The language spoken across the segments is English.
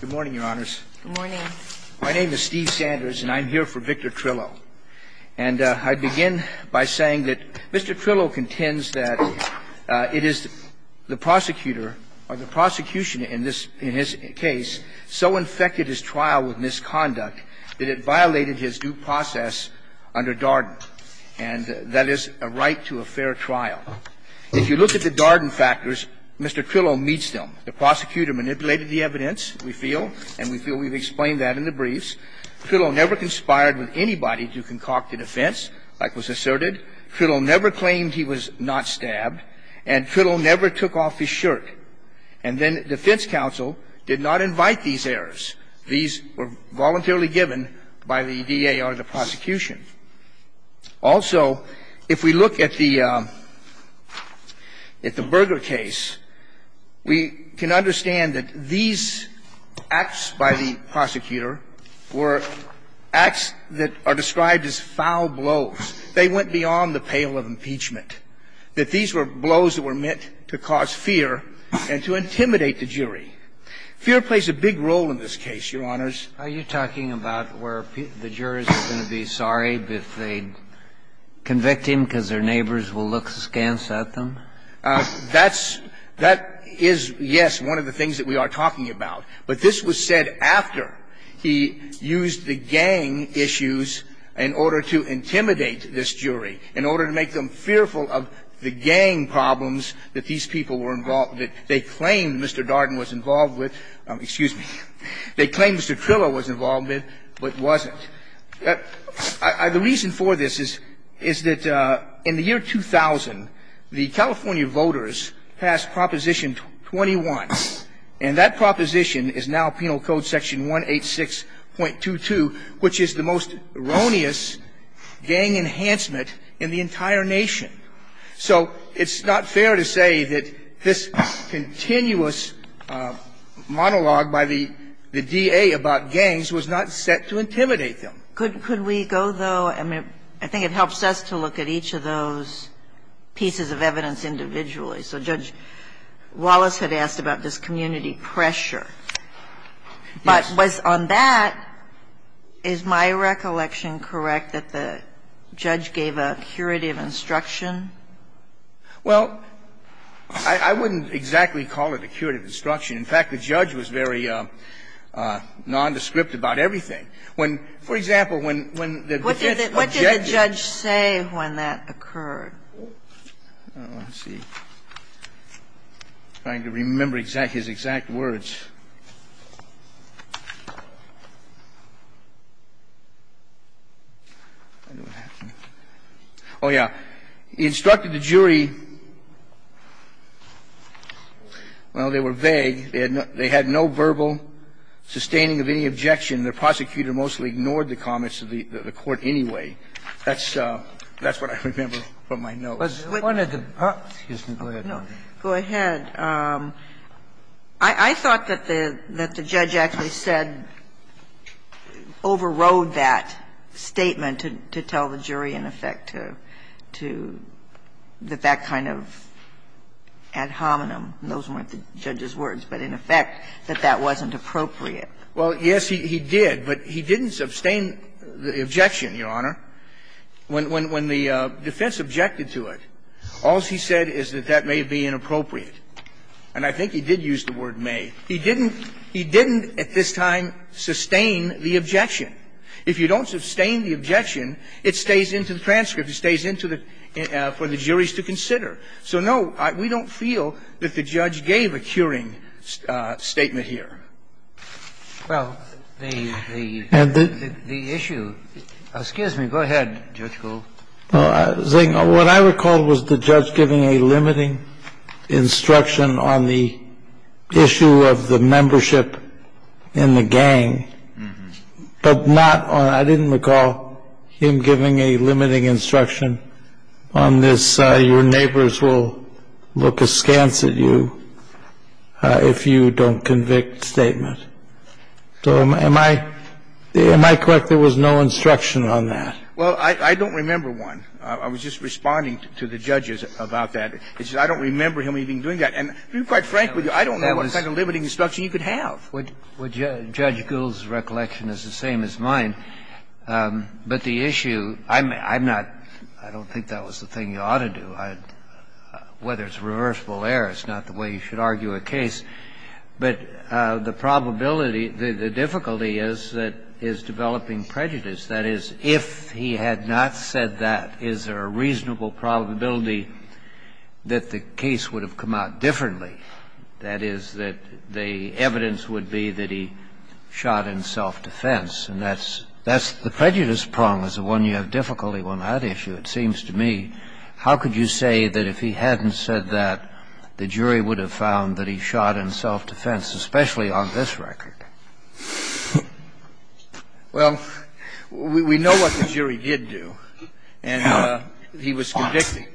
Good morning, Your Honors. Good morning. My name is Steve Sanders, and I'm here for Victor Trillo. And I begin by saying that Mr. Trillo contends that it is the prosecutor or the prosecution in his case so infected his trial with misconduct that it violated his due process under Darden, and that is a right to a fair trial. If you look at the Darden factors, Mr. Trillo meets them. The prosecutor manipulated the evidence, we feel, and we feel we've explained that in the briefs. Trillo never conspired with anybody to concoct a defense, like was asserted. Trillo never claimed he was not stabbed. And Trillo never took off his shirt. And then defense counsel did not invite these errors. These were voluntarily given by the DA or the prosecution. Also, if we look at the Berger case, we can understand that these acts by the prosecutor were acts that are described as foul blows. They went beyond the pale of impeachment, that these were blows that were meant to cause fear and to intimidate the jury. Fear plays a big role in this case, Your Honors. Kennedy, are you talking about where the jurors are going to be sorry if they convict him because their neighbors will look scant at them? That's – that is, yes, one of the things that we are talking about. But this was said after he used the gang issues in order to intimidate this jury, in order to make them fearful of the gang problems that these people were involved with, they claimed Mr. Darden was involved with. Excuse me. They claimed Mr. Trillo was involved with, but wasn't. The reason for this is that in the year 2000, the California voters passed Proposition 21. And that proposition is now Penal Code Section 186.22, which is the most erroneous gang enhancement in the entire nation. So it's not fair to say that this continuous monologue by the DA about gangs was not set to intimidate them. Could we go, though – I mean, I think it helps us to look at each of those pieces of evidence individually. So Judge Wallace had asked about this community pressure. Yes. But on that, is my recollection correct that the judge gave a curative instruction when the defense objected? Well, I wouldn't exactly call it a curative instruction. In fact, the judge was very nondescript about everything. When, for example, when the defense objected. What did the judge say when that occurred? Let's see. I'm trying to remember his exact words. I don't know what happened. Oh, yeah. He instructed the jury – well, they were vague. They had no verbal sustaining of any objection. The prosecutor mostly ignored the comments of the court anyway. That's what I remember from my notes. Go ahead. I thought that the judge actually said, overrode that statement to tell the jury in effect to – that that kind of ad hominem – those weren't the judge's words – but in effect that that wasn't appropriate. Well, yes, he did. But he didn't sustain the objection, Your Honor. When the defense objected to it, all he said is that that may be inappropriate. And I think he did use the word may. He didn't at this time sustain the objection. If you don't sustain the objection, it stays into the transcript. It stays into the – for the juries to consider. So, no, we don't feel that the judge gave a curing statement here. Well, the issue – excuse me. Go ahead, Judge Gold. What I recall was the judge giving a limiting instruction on the issue of the membership in the gang, but not on – I didn't recall him giving a limiting instruction on this, your neighbors will look askance at you if you don't convict statement. So am I – am I correct there was no instruction on that? Well, I don't remember one. I was just responding to the judges about that. I don't remember him even doing that. And to be quite frank with you, I don't know what kind of limiting instruction you could have. Well, Judge Gould's recollection is the same as mine. But the issue – I'm not – I don't think that was the thing you ought to do. Whether it's reversible error is not the way you should argue a case. But the probability – the difficulty is that is developing prejudice. That is, if he had not said that, is there a reasonable probability that the case would have come out differently, that is, that the evidence would be that he shot in self-defense? And that's – that's the prejudice prong is the one you have difficulty with on that issue, it seems to me. How could you say that if he hadn't said that, the jury would have found that he shot in self-defense, especially on this record? Well, we know what the jury did do, and he was convicting.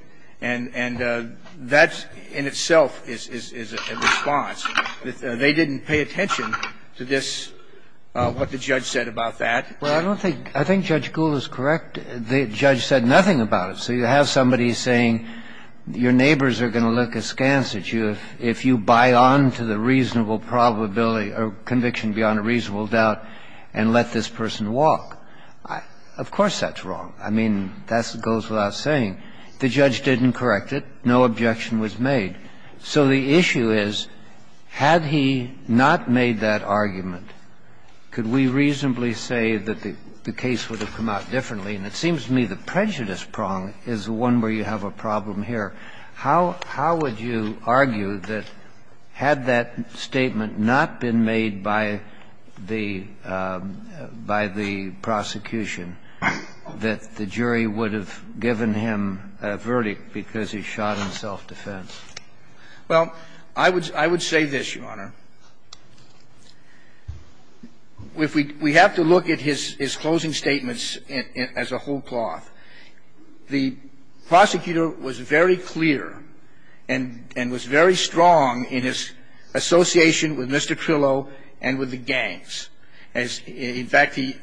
And that in itself is a response. They didn't pay attention to this – what the judge said about that. Well, I don't think – I think Judge Gould is correct. The judge said nothing about it. So you have somebody saying your neighbors are going to look askance at you if you buy on to the reasonable probability or conviction beyond a reasonable doubt and let this person walk. Of course that's wrong. I mean, that goes without saying. The judge didn't correct it. No objection was made. So the issue is, had he not made that argument, could we reasonably say that the case would have come out differently? And it seems to me the prejudice prong is the one where you have a problem here. How – how would you argue that had that statement not been made by the – by the prosecution, that the jury would have given him a verdict because he shot in self-defense? Well, I would – I would say this, Your Honor. If we – we have to look at his closing statements as a whole cloth. The prosecutor was very clear and was very strong in his association with Mr. Trillo and with the gangs. In fact, he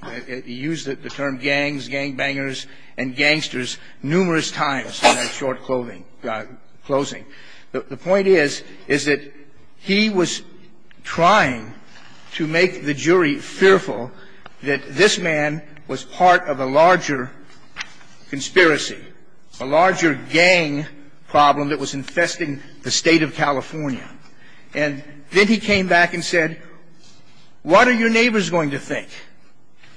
used the term gangs, gangbangers and gangsters numerous times in that short closing. The point is, is that he was trying to make the jury fearful that this man was part of a larger conspiracy, a larger gang problem that was infesting the State of California. And then he came back and said, what are your neighbors going to think?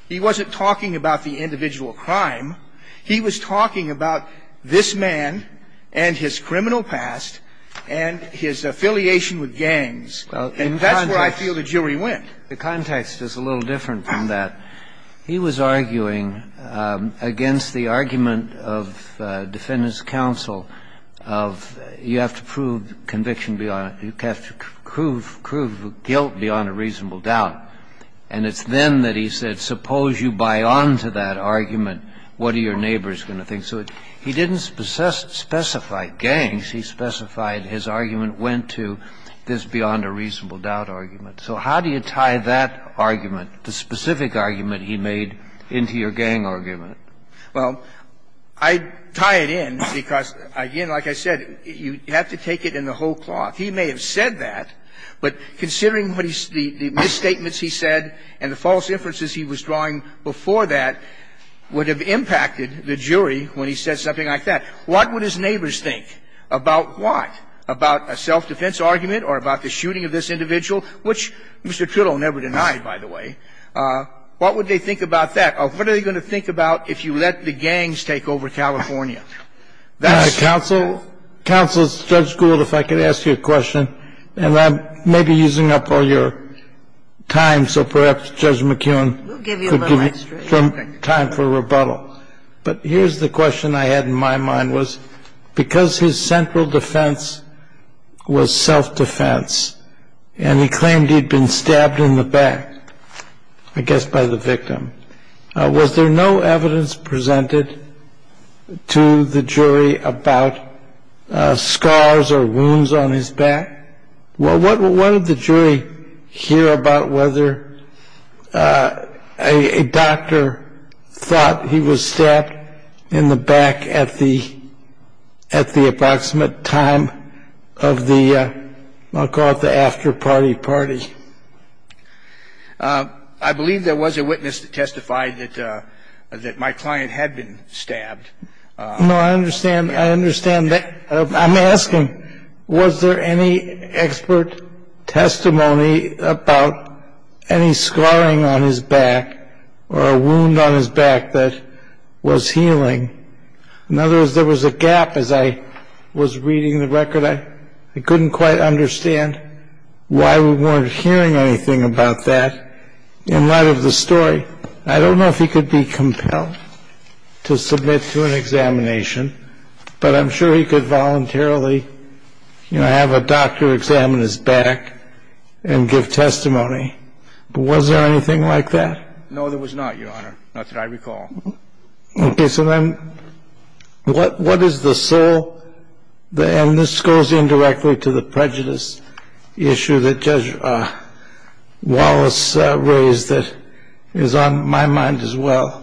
He wasn't talking about the individual crime. He was talking about this man and his criminal past and his affiliation with gangs. And that's where I feel the jury went. The context is a little different than that. He was arguing against the argument of Defendant's counsel of, you have to prove conviction beyond – you have to prove guilt beyond a reasonable doubt. And it's then that he said, suppose you buy on to that argument, what are your neighbors going to think? So he didn't specify gangs. He specified his argument went to this beyond a reasonable doubt argument. So how do you tie that argument, the specific argument he made, into your gang argument? Well, I'd tie it in because, again, like I said, you have to take it in the whole cloth. He may have said that, but considering what he's – the misstatements he said and the false inferences he was drawing before that would have impacted the jury when he said something like that. What would his neighbors think? About what? About a self-defense argument or about the shooting of this individual? Which Mr. Kittle never denied, by the way. What would they think about that? What are they going to think about if you let the gangs take over California? That's – Counsel, Judge Gould, if I could ask you a question, and I may be using up all your time, so perhaps Judge McKeown could give you some time for rebuttal. We'll give you a little extra. But here's the question I had in my mind was, because his central defense was self-defense and he claimed he'd been stabbed in the back, I guess by the victim, was there no evidence presented to the jury about scars or wounds on his back? What did the jury hear about whether a doctor thought he was stabbed in the back at the approximate time of the, I'll call it the after-party party? I believe there was a witness that testified that my client had been stabbed. No, I understand. I understand that. I'm asking, was there any expert testimony about any scarring on his back or a wound on his back that was healing? In other words, there was a gap as I was reading the record. I couldn't quite understand why we weren't hearing anything about that. In light of the story, I don't know if he could be compelled to submit to an examination, but I'm sure he could voluntarily have a doctor examine his back and give testimony. But was there anything like that? No, there was not, Your Honor. Not that I recall. Okay. So then what is the sole, and this goes indirectly to the prejudice issue that Judge Wallace raised that is on my mind as well.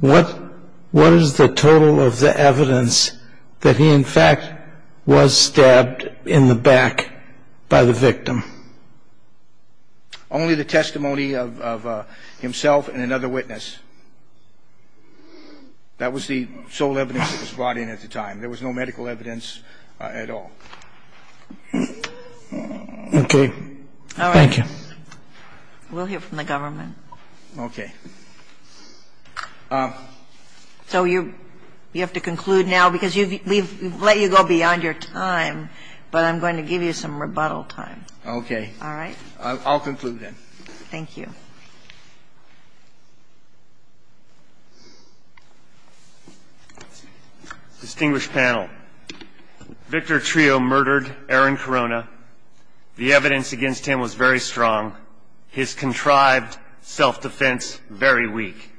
What is the total of the evidence that he, in fact, was stabbed in the back by the victim? Only the testimony of himself and another witness. That was the sole evidence that was brought in at the time. There was no medical evidence at all. Okay. Thank you. All right. We'll hear from the government. Okay. So you have to conclude now because we've let you go beyond your time, but I'm going to give you some rebuttal time. Okay. All right. I'll conclude then. Thank you. Distinguished panel, Victor Trio murdered Aaron Corona. The evidence against him was very strong. His contrived self-defense, very weak.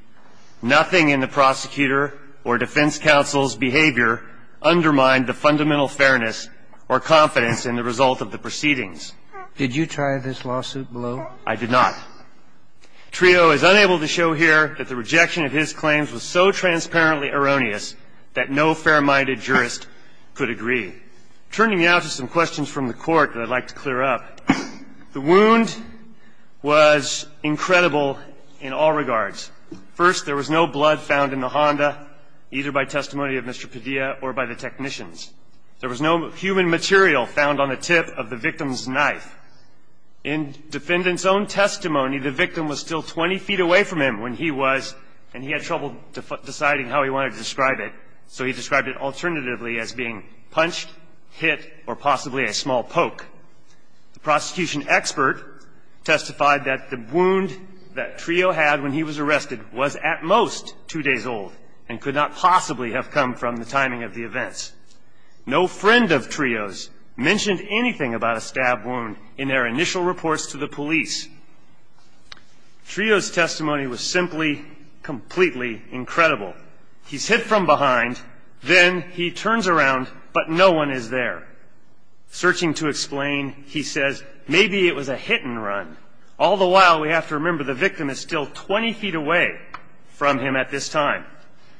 Nothing in the prosecutor or defense counsel's behavior undermined the fundamental fairness or confidence in the result of the proceedings. Did you try this lawsuit below? I did not. Trio is unable to show here that the rejection of his claims was so transparently erroneous that no fair-minded jurist could agree. Turning now to some questions from the Court that I'd like to clear up, the wound was incredible in all regards. First, there was no blood found in the Honda, either by testimony of Mr. Padilla or by the technicians. There was no human material found on the tip of the victim's knife. In defendant's own testimony, the victim was still 20 feet away from him when he was, and he had trouble deciding how he wanted to describe it, so he described it alternatively as being punched, hit, or possibly a small poke. The prosecution expert testified that the wound that Trio had when he was arrested was at most two days old and could not possibly have come from the timing of the events. No friend of Trio's mentioned anything about a stab wound in their initial reports to the police. Trio's testimony was simply completely incredible. He's hit from behind, then he turns around, but no one is there. Searching to explain, he says, maybe it was a hit and run. All the while, we have to remember the victim is still 20 feet away from him at this time.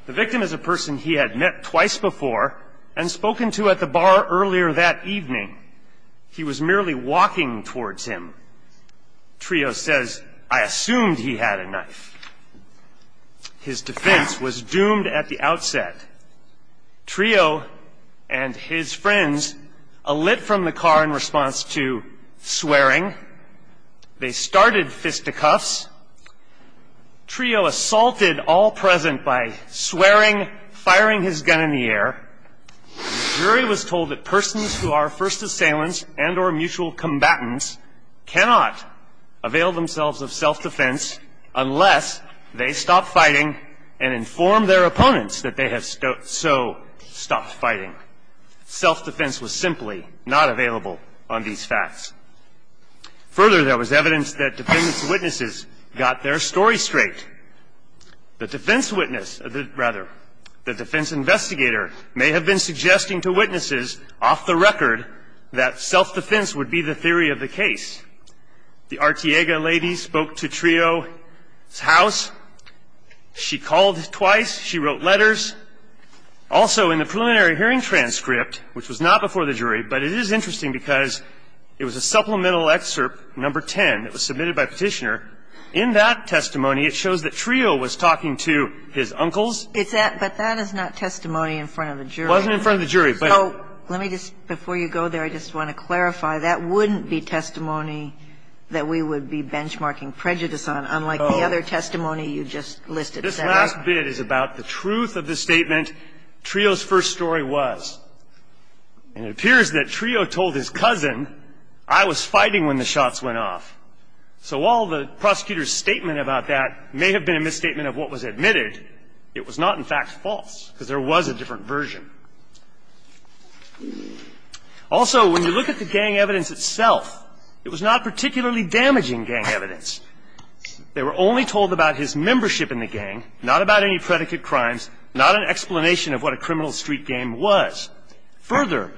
The victim is a person he had met twice before and spoken to at the bar earlier that evening. He was merely walking towards him. Trio says, I assumed he had a knife. His defense was doomed at the outset. Trio and his friends alit from the car in response to swearing. They started fisticuffs. Trio assaulted all present by swearing, firing his gun in the air. The jury was told that persons who are first assailants and or mutual combatants cannot avail themselves of self-defense unless they stop fighting and inform their opponents that they have so stopped fighting. Self-defense was simply not available on these facts. Further, there was evidence that defense witnesses got their story straight. The defense witness, rather, the defense investigator may have been suggesting to witnesses off the record that self-defense would be the theory of the case. The Artiega lady spoke to Trio's house. She called twice. She wrote letters. Also, in the preliminary hearing transcript, which was not before the jury, but it is supplemental excerpt number 10 that was submitted by Petitioner, in that testimony, it shows that Trio was talking to his uncles. But that is not testimony in front of the jury. It wasn't in front of the jury. Let me just, before you go there, I just want to clarify, that wouldn't be testimony that we would be benchmarking prejudice on, unlike the other testimony you just listed. This last bit is about the truth of the statement, Trio's first story was. And it appears that Trio told his cousin, I was fighting when the shots went off. So while the prosecutor's statement about that may have been a misstatement of what was admitted, it was not, in fact, false, because there was a different version. Also, when you look at the gang evidence itself, it was not particularly damaging gang evidence. They were only told about his membership in the gang, not about any predicate crimes, not an explanation of what a criminal street gang was. Further,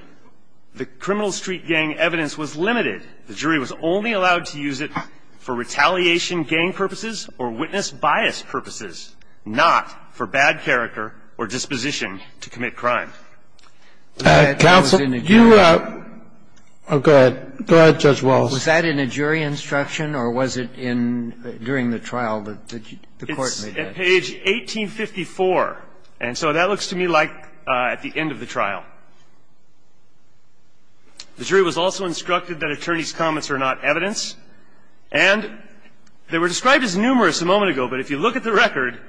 the criminal street gang evidence was limited. The jury was only allowed to use it for retaliation gang purposes or witness bias purposes, not for bad character or disposition to commit crime. That was in a jury instruction. Go ahead. Go ahead, Judge Wallace. Was that in a jury instruction, or was it in, during the trial that the court made that? Page 1854. And so that looks to me like at the end of the trial. The jury was also instructed that attorneys' comments are not evidence. And they were described as numerous a moment ago, but if you look at the record,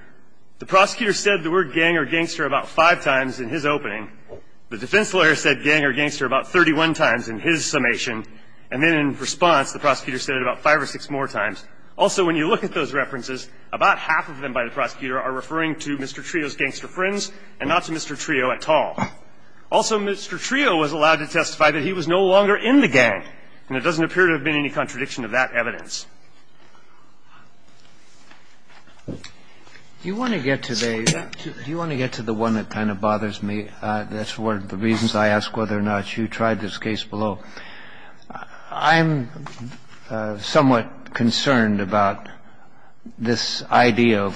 the prosecutor said the word gang or gangster about five times in his opening. The defense lawyer said gang or gangster about 31 times in his summation. And then in response, the prosecutor said it about five or six more times. Also, when you look at those references, about half of them by the prosecutor are referring to Mr. Trio's gangster friends and not to Mr. Trio at all. Also, Mr. Trio was allowed to testify that he was no longer in the gang, and there doesn't appear to have been any contradiction of that evidence. Do you want to get to the one that kind of bothers me? That's one of the reasons I ask whether or not you tried this case below. I'm somewhat concerned about this idea of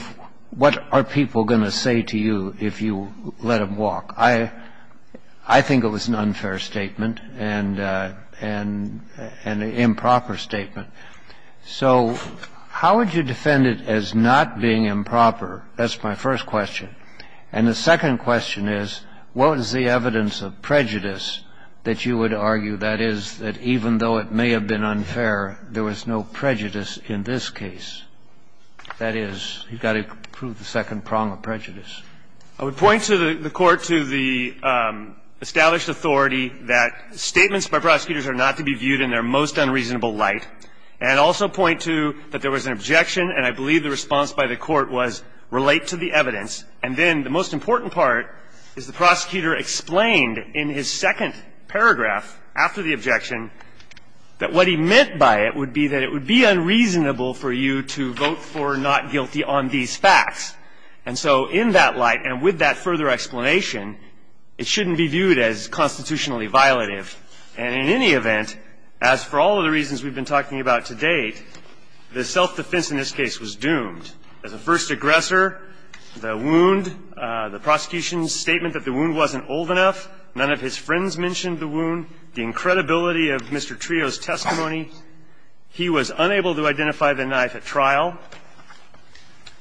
what are people going to say to you if you let them walk. I think it was an unfair statement and an improper statement. So how would you defend it as not being improper? That's my first question. And the second question is, what is the evidence of prejudice that you would argue, that is, that even though it may have been unfair, there was no prejudice in this case? That is, you've got to prove the second prong of prejudice. I would point to the Court to the established authority that statements by prosecutors are not to be viewed in their most unreasonable light, and also point to that there was an objection, and I believe the response by the Court was relate to the evidence. And then the most important part is the prosecutor explained in his second paragraph after the objection that what he meant by it would be that it would be unreasonable for you to vote for not guilty on these facts. And so in that light, and with that further explanation, it shouldn't be viewed as constitutionally violative. And in any event, as for all of the reasons we've been talking about to date, the self-defense in this case was doomed. As a first aggressor, the wound, the prosecution's statement that the wound wasn't old enough, none of his friends mentioned the wound, the incredibility of Mr. Trio's testimony. He was unable to identify the knife at trial.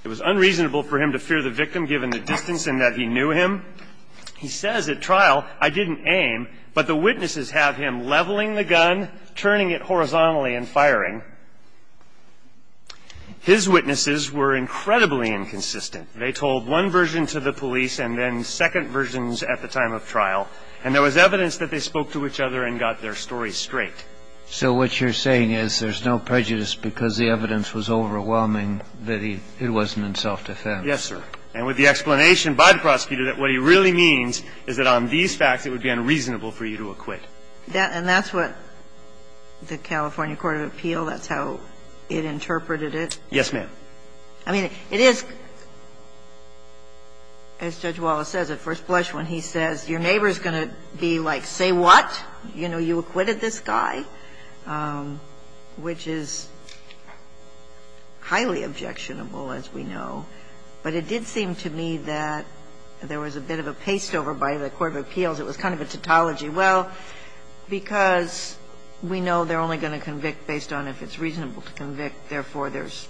It was unreasonable for him to fear the victim, given the distance and that he knew him. He says at trial, I didn't aim, but the witnesses have him leveling the gun, turning it horizontally and firing. His witnesses were incredibly inconsistent. They told one version to the police and then second versions at the time of trial, and there was evidence that they spoke to each other and got their story straight. So what you're saying is there's no prejudice because the evidence was overwhelming that it wasn't in self-defense. Yes, sir. And with the explanation by the prosecutor that what he really means is that on these facts, it would be unreasonable for you to acquit. And that's what the California Court of Appeal, that's how it interpreted it? Yes, ma'am. I mean, it is, as Judge Wallace says at first blush when he says, your neighbor is going to be like, say what? You know, you acquitted this guy, which is highly objectionable, as we know. But it did seem to me that there was a bit of a pasteover by the court of appeals. It was kind of a tautology. Well, because we know they're only going to convict based on if it's reasonable to convict, therefore, there's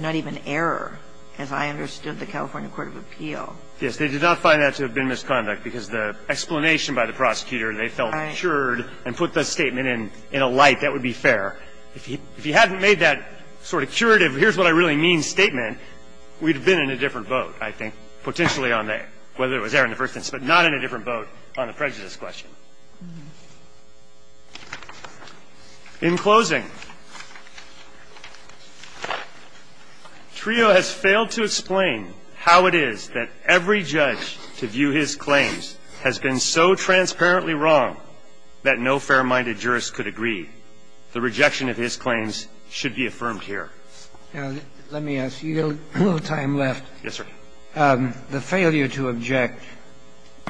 not even error, as I understood the California Court of Appeal. Yes. They did not find that to have been misconduct because the explanation by the prosecutor they felt cured and put the statement in a light that would be fair. If he hadn't made that sort of curative, here's what I really mean, statement, we'd have been in a different boat, I think, potentially on the, whether it was error in the first instance, but not in a different boat on the prejudice question. In closing, Trio has failed to explain how it is that every judge to view his claims has been so transparently wrong that no fair-minded jurist could agree. The rejection of his claims should be affirmed here. Now, let me ask you a little time left. Yes, sir. The failure to object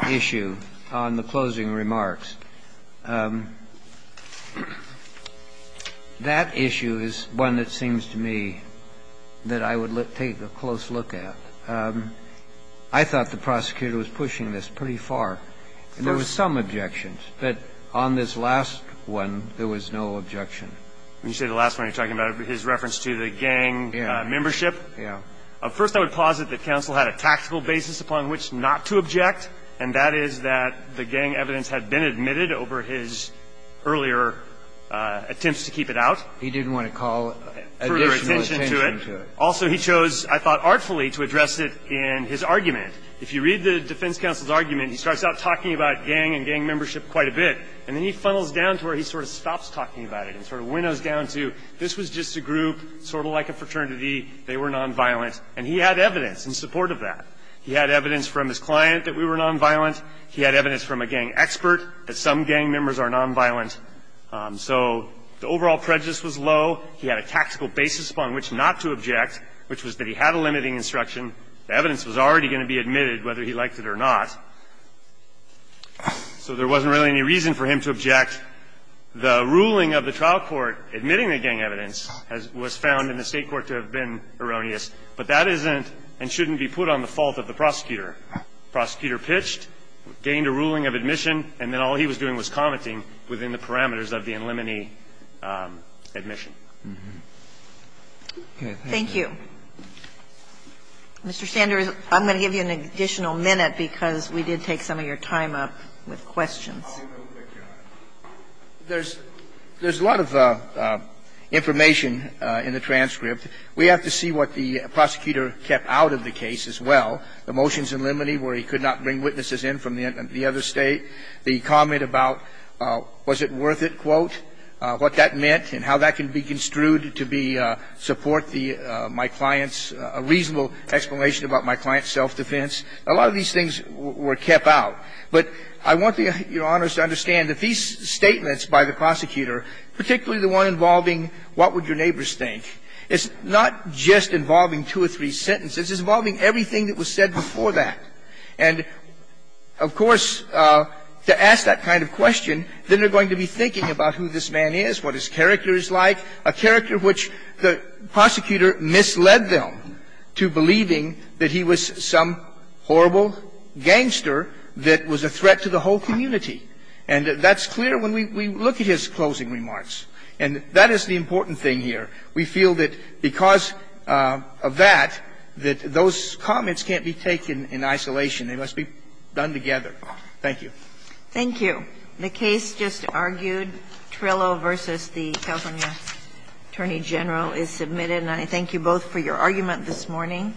issue on the closing remarks, that issue is one that seems to me that I would take a close look at. I thought the prosecutor was pushing this pretty far. There were some objections. But on this last one, there was no objection. When you say the last one, you're talking about his reference to the gang membership? Yes. First, I would posit that counsel had a tactical basis upon which not to object, and that is that the gang evidence had been admitted over his earlier attempts to keep it out. He didn't want to call additional attention to it. Further attention to it. Also, he chose, I thought artfully, to address it in his argument. If you read the defense counsel's argument, he starts out talking about gang and gang membership quite a bit. And then he funnels down to where he sort of stops talking about it and sort of winnows down to this was just a group, sort of like a fraternity. They were nonviolent. And he had evidence in support of that. He had evidence from his client that we were nonviolent. He had evidence from a gang expert that some gang members are nonviolent. So the overall prejudice was low. He had a tactical basis upon which not to object, which was that he had a limiting instruction. The evidence was already going to be admitted whether he liked it or not. So there wasn't really any reason for him to object. The ruling of the trial court admitting the gang evidence was found in the State court to have been erroneous. But that isn't and shouldn't be put on the fault of the prosecutor. The prosecutor pitched, gained a ruling of admission, and then all he was doing was commenting within the parameters of the in limine admission. Thank you. Mr. Sanders, I'm going to give you an additional minute because we did take some of your time up with questions. There's a lot of information in the transcript. We have to see what the prosecutor kept out of the case as well. The motions in limine where he could not bring witnesses in from the other State, the comment about was it worth it, quote, what that meant and how that can be construed to be support the my client's reasonable explanation about my client's self-defense. A lot of these things were kept out. But I want Your Honors to understand that these statements by the prosecutor, particularly the one involving what would your neighbors think, is not just involving two or three sentences. It's involving everything that was said before that. And of course, to ask that kind of question, then they're going to be thinking about who this man is, what his character is like, a character which the prosecutor misled them to believing that he was some horrible gangster that was a threat to the whole community. And that's clear when we look at his closing remarks. And that is the important thing here. We feel that because of that, that those comments can't be taken in isolation. They must be done together. Thank you. Thank you. The case just argued, Trillo v. the California Attorney General, is submitted. And I thank you both for your argument this morning.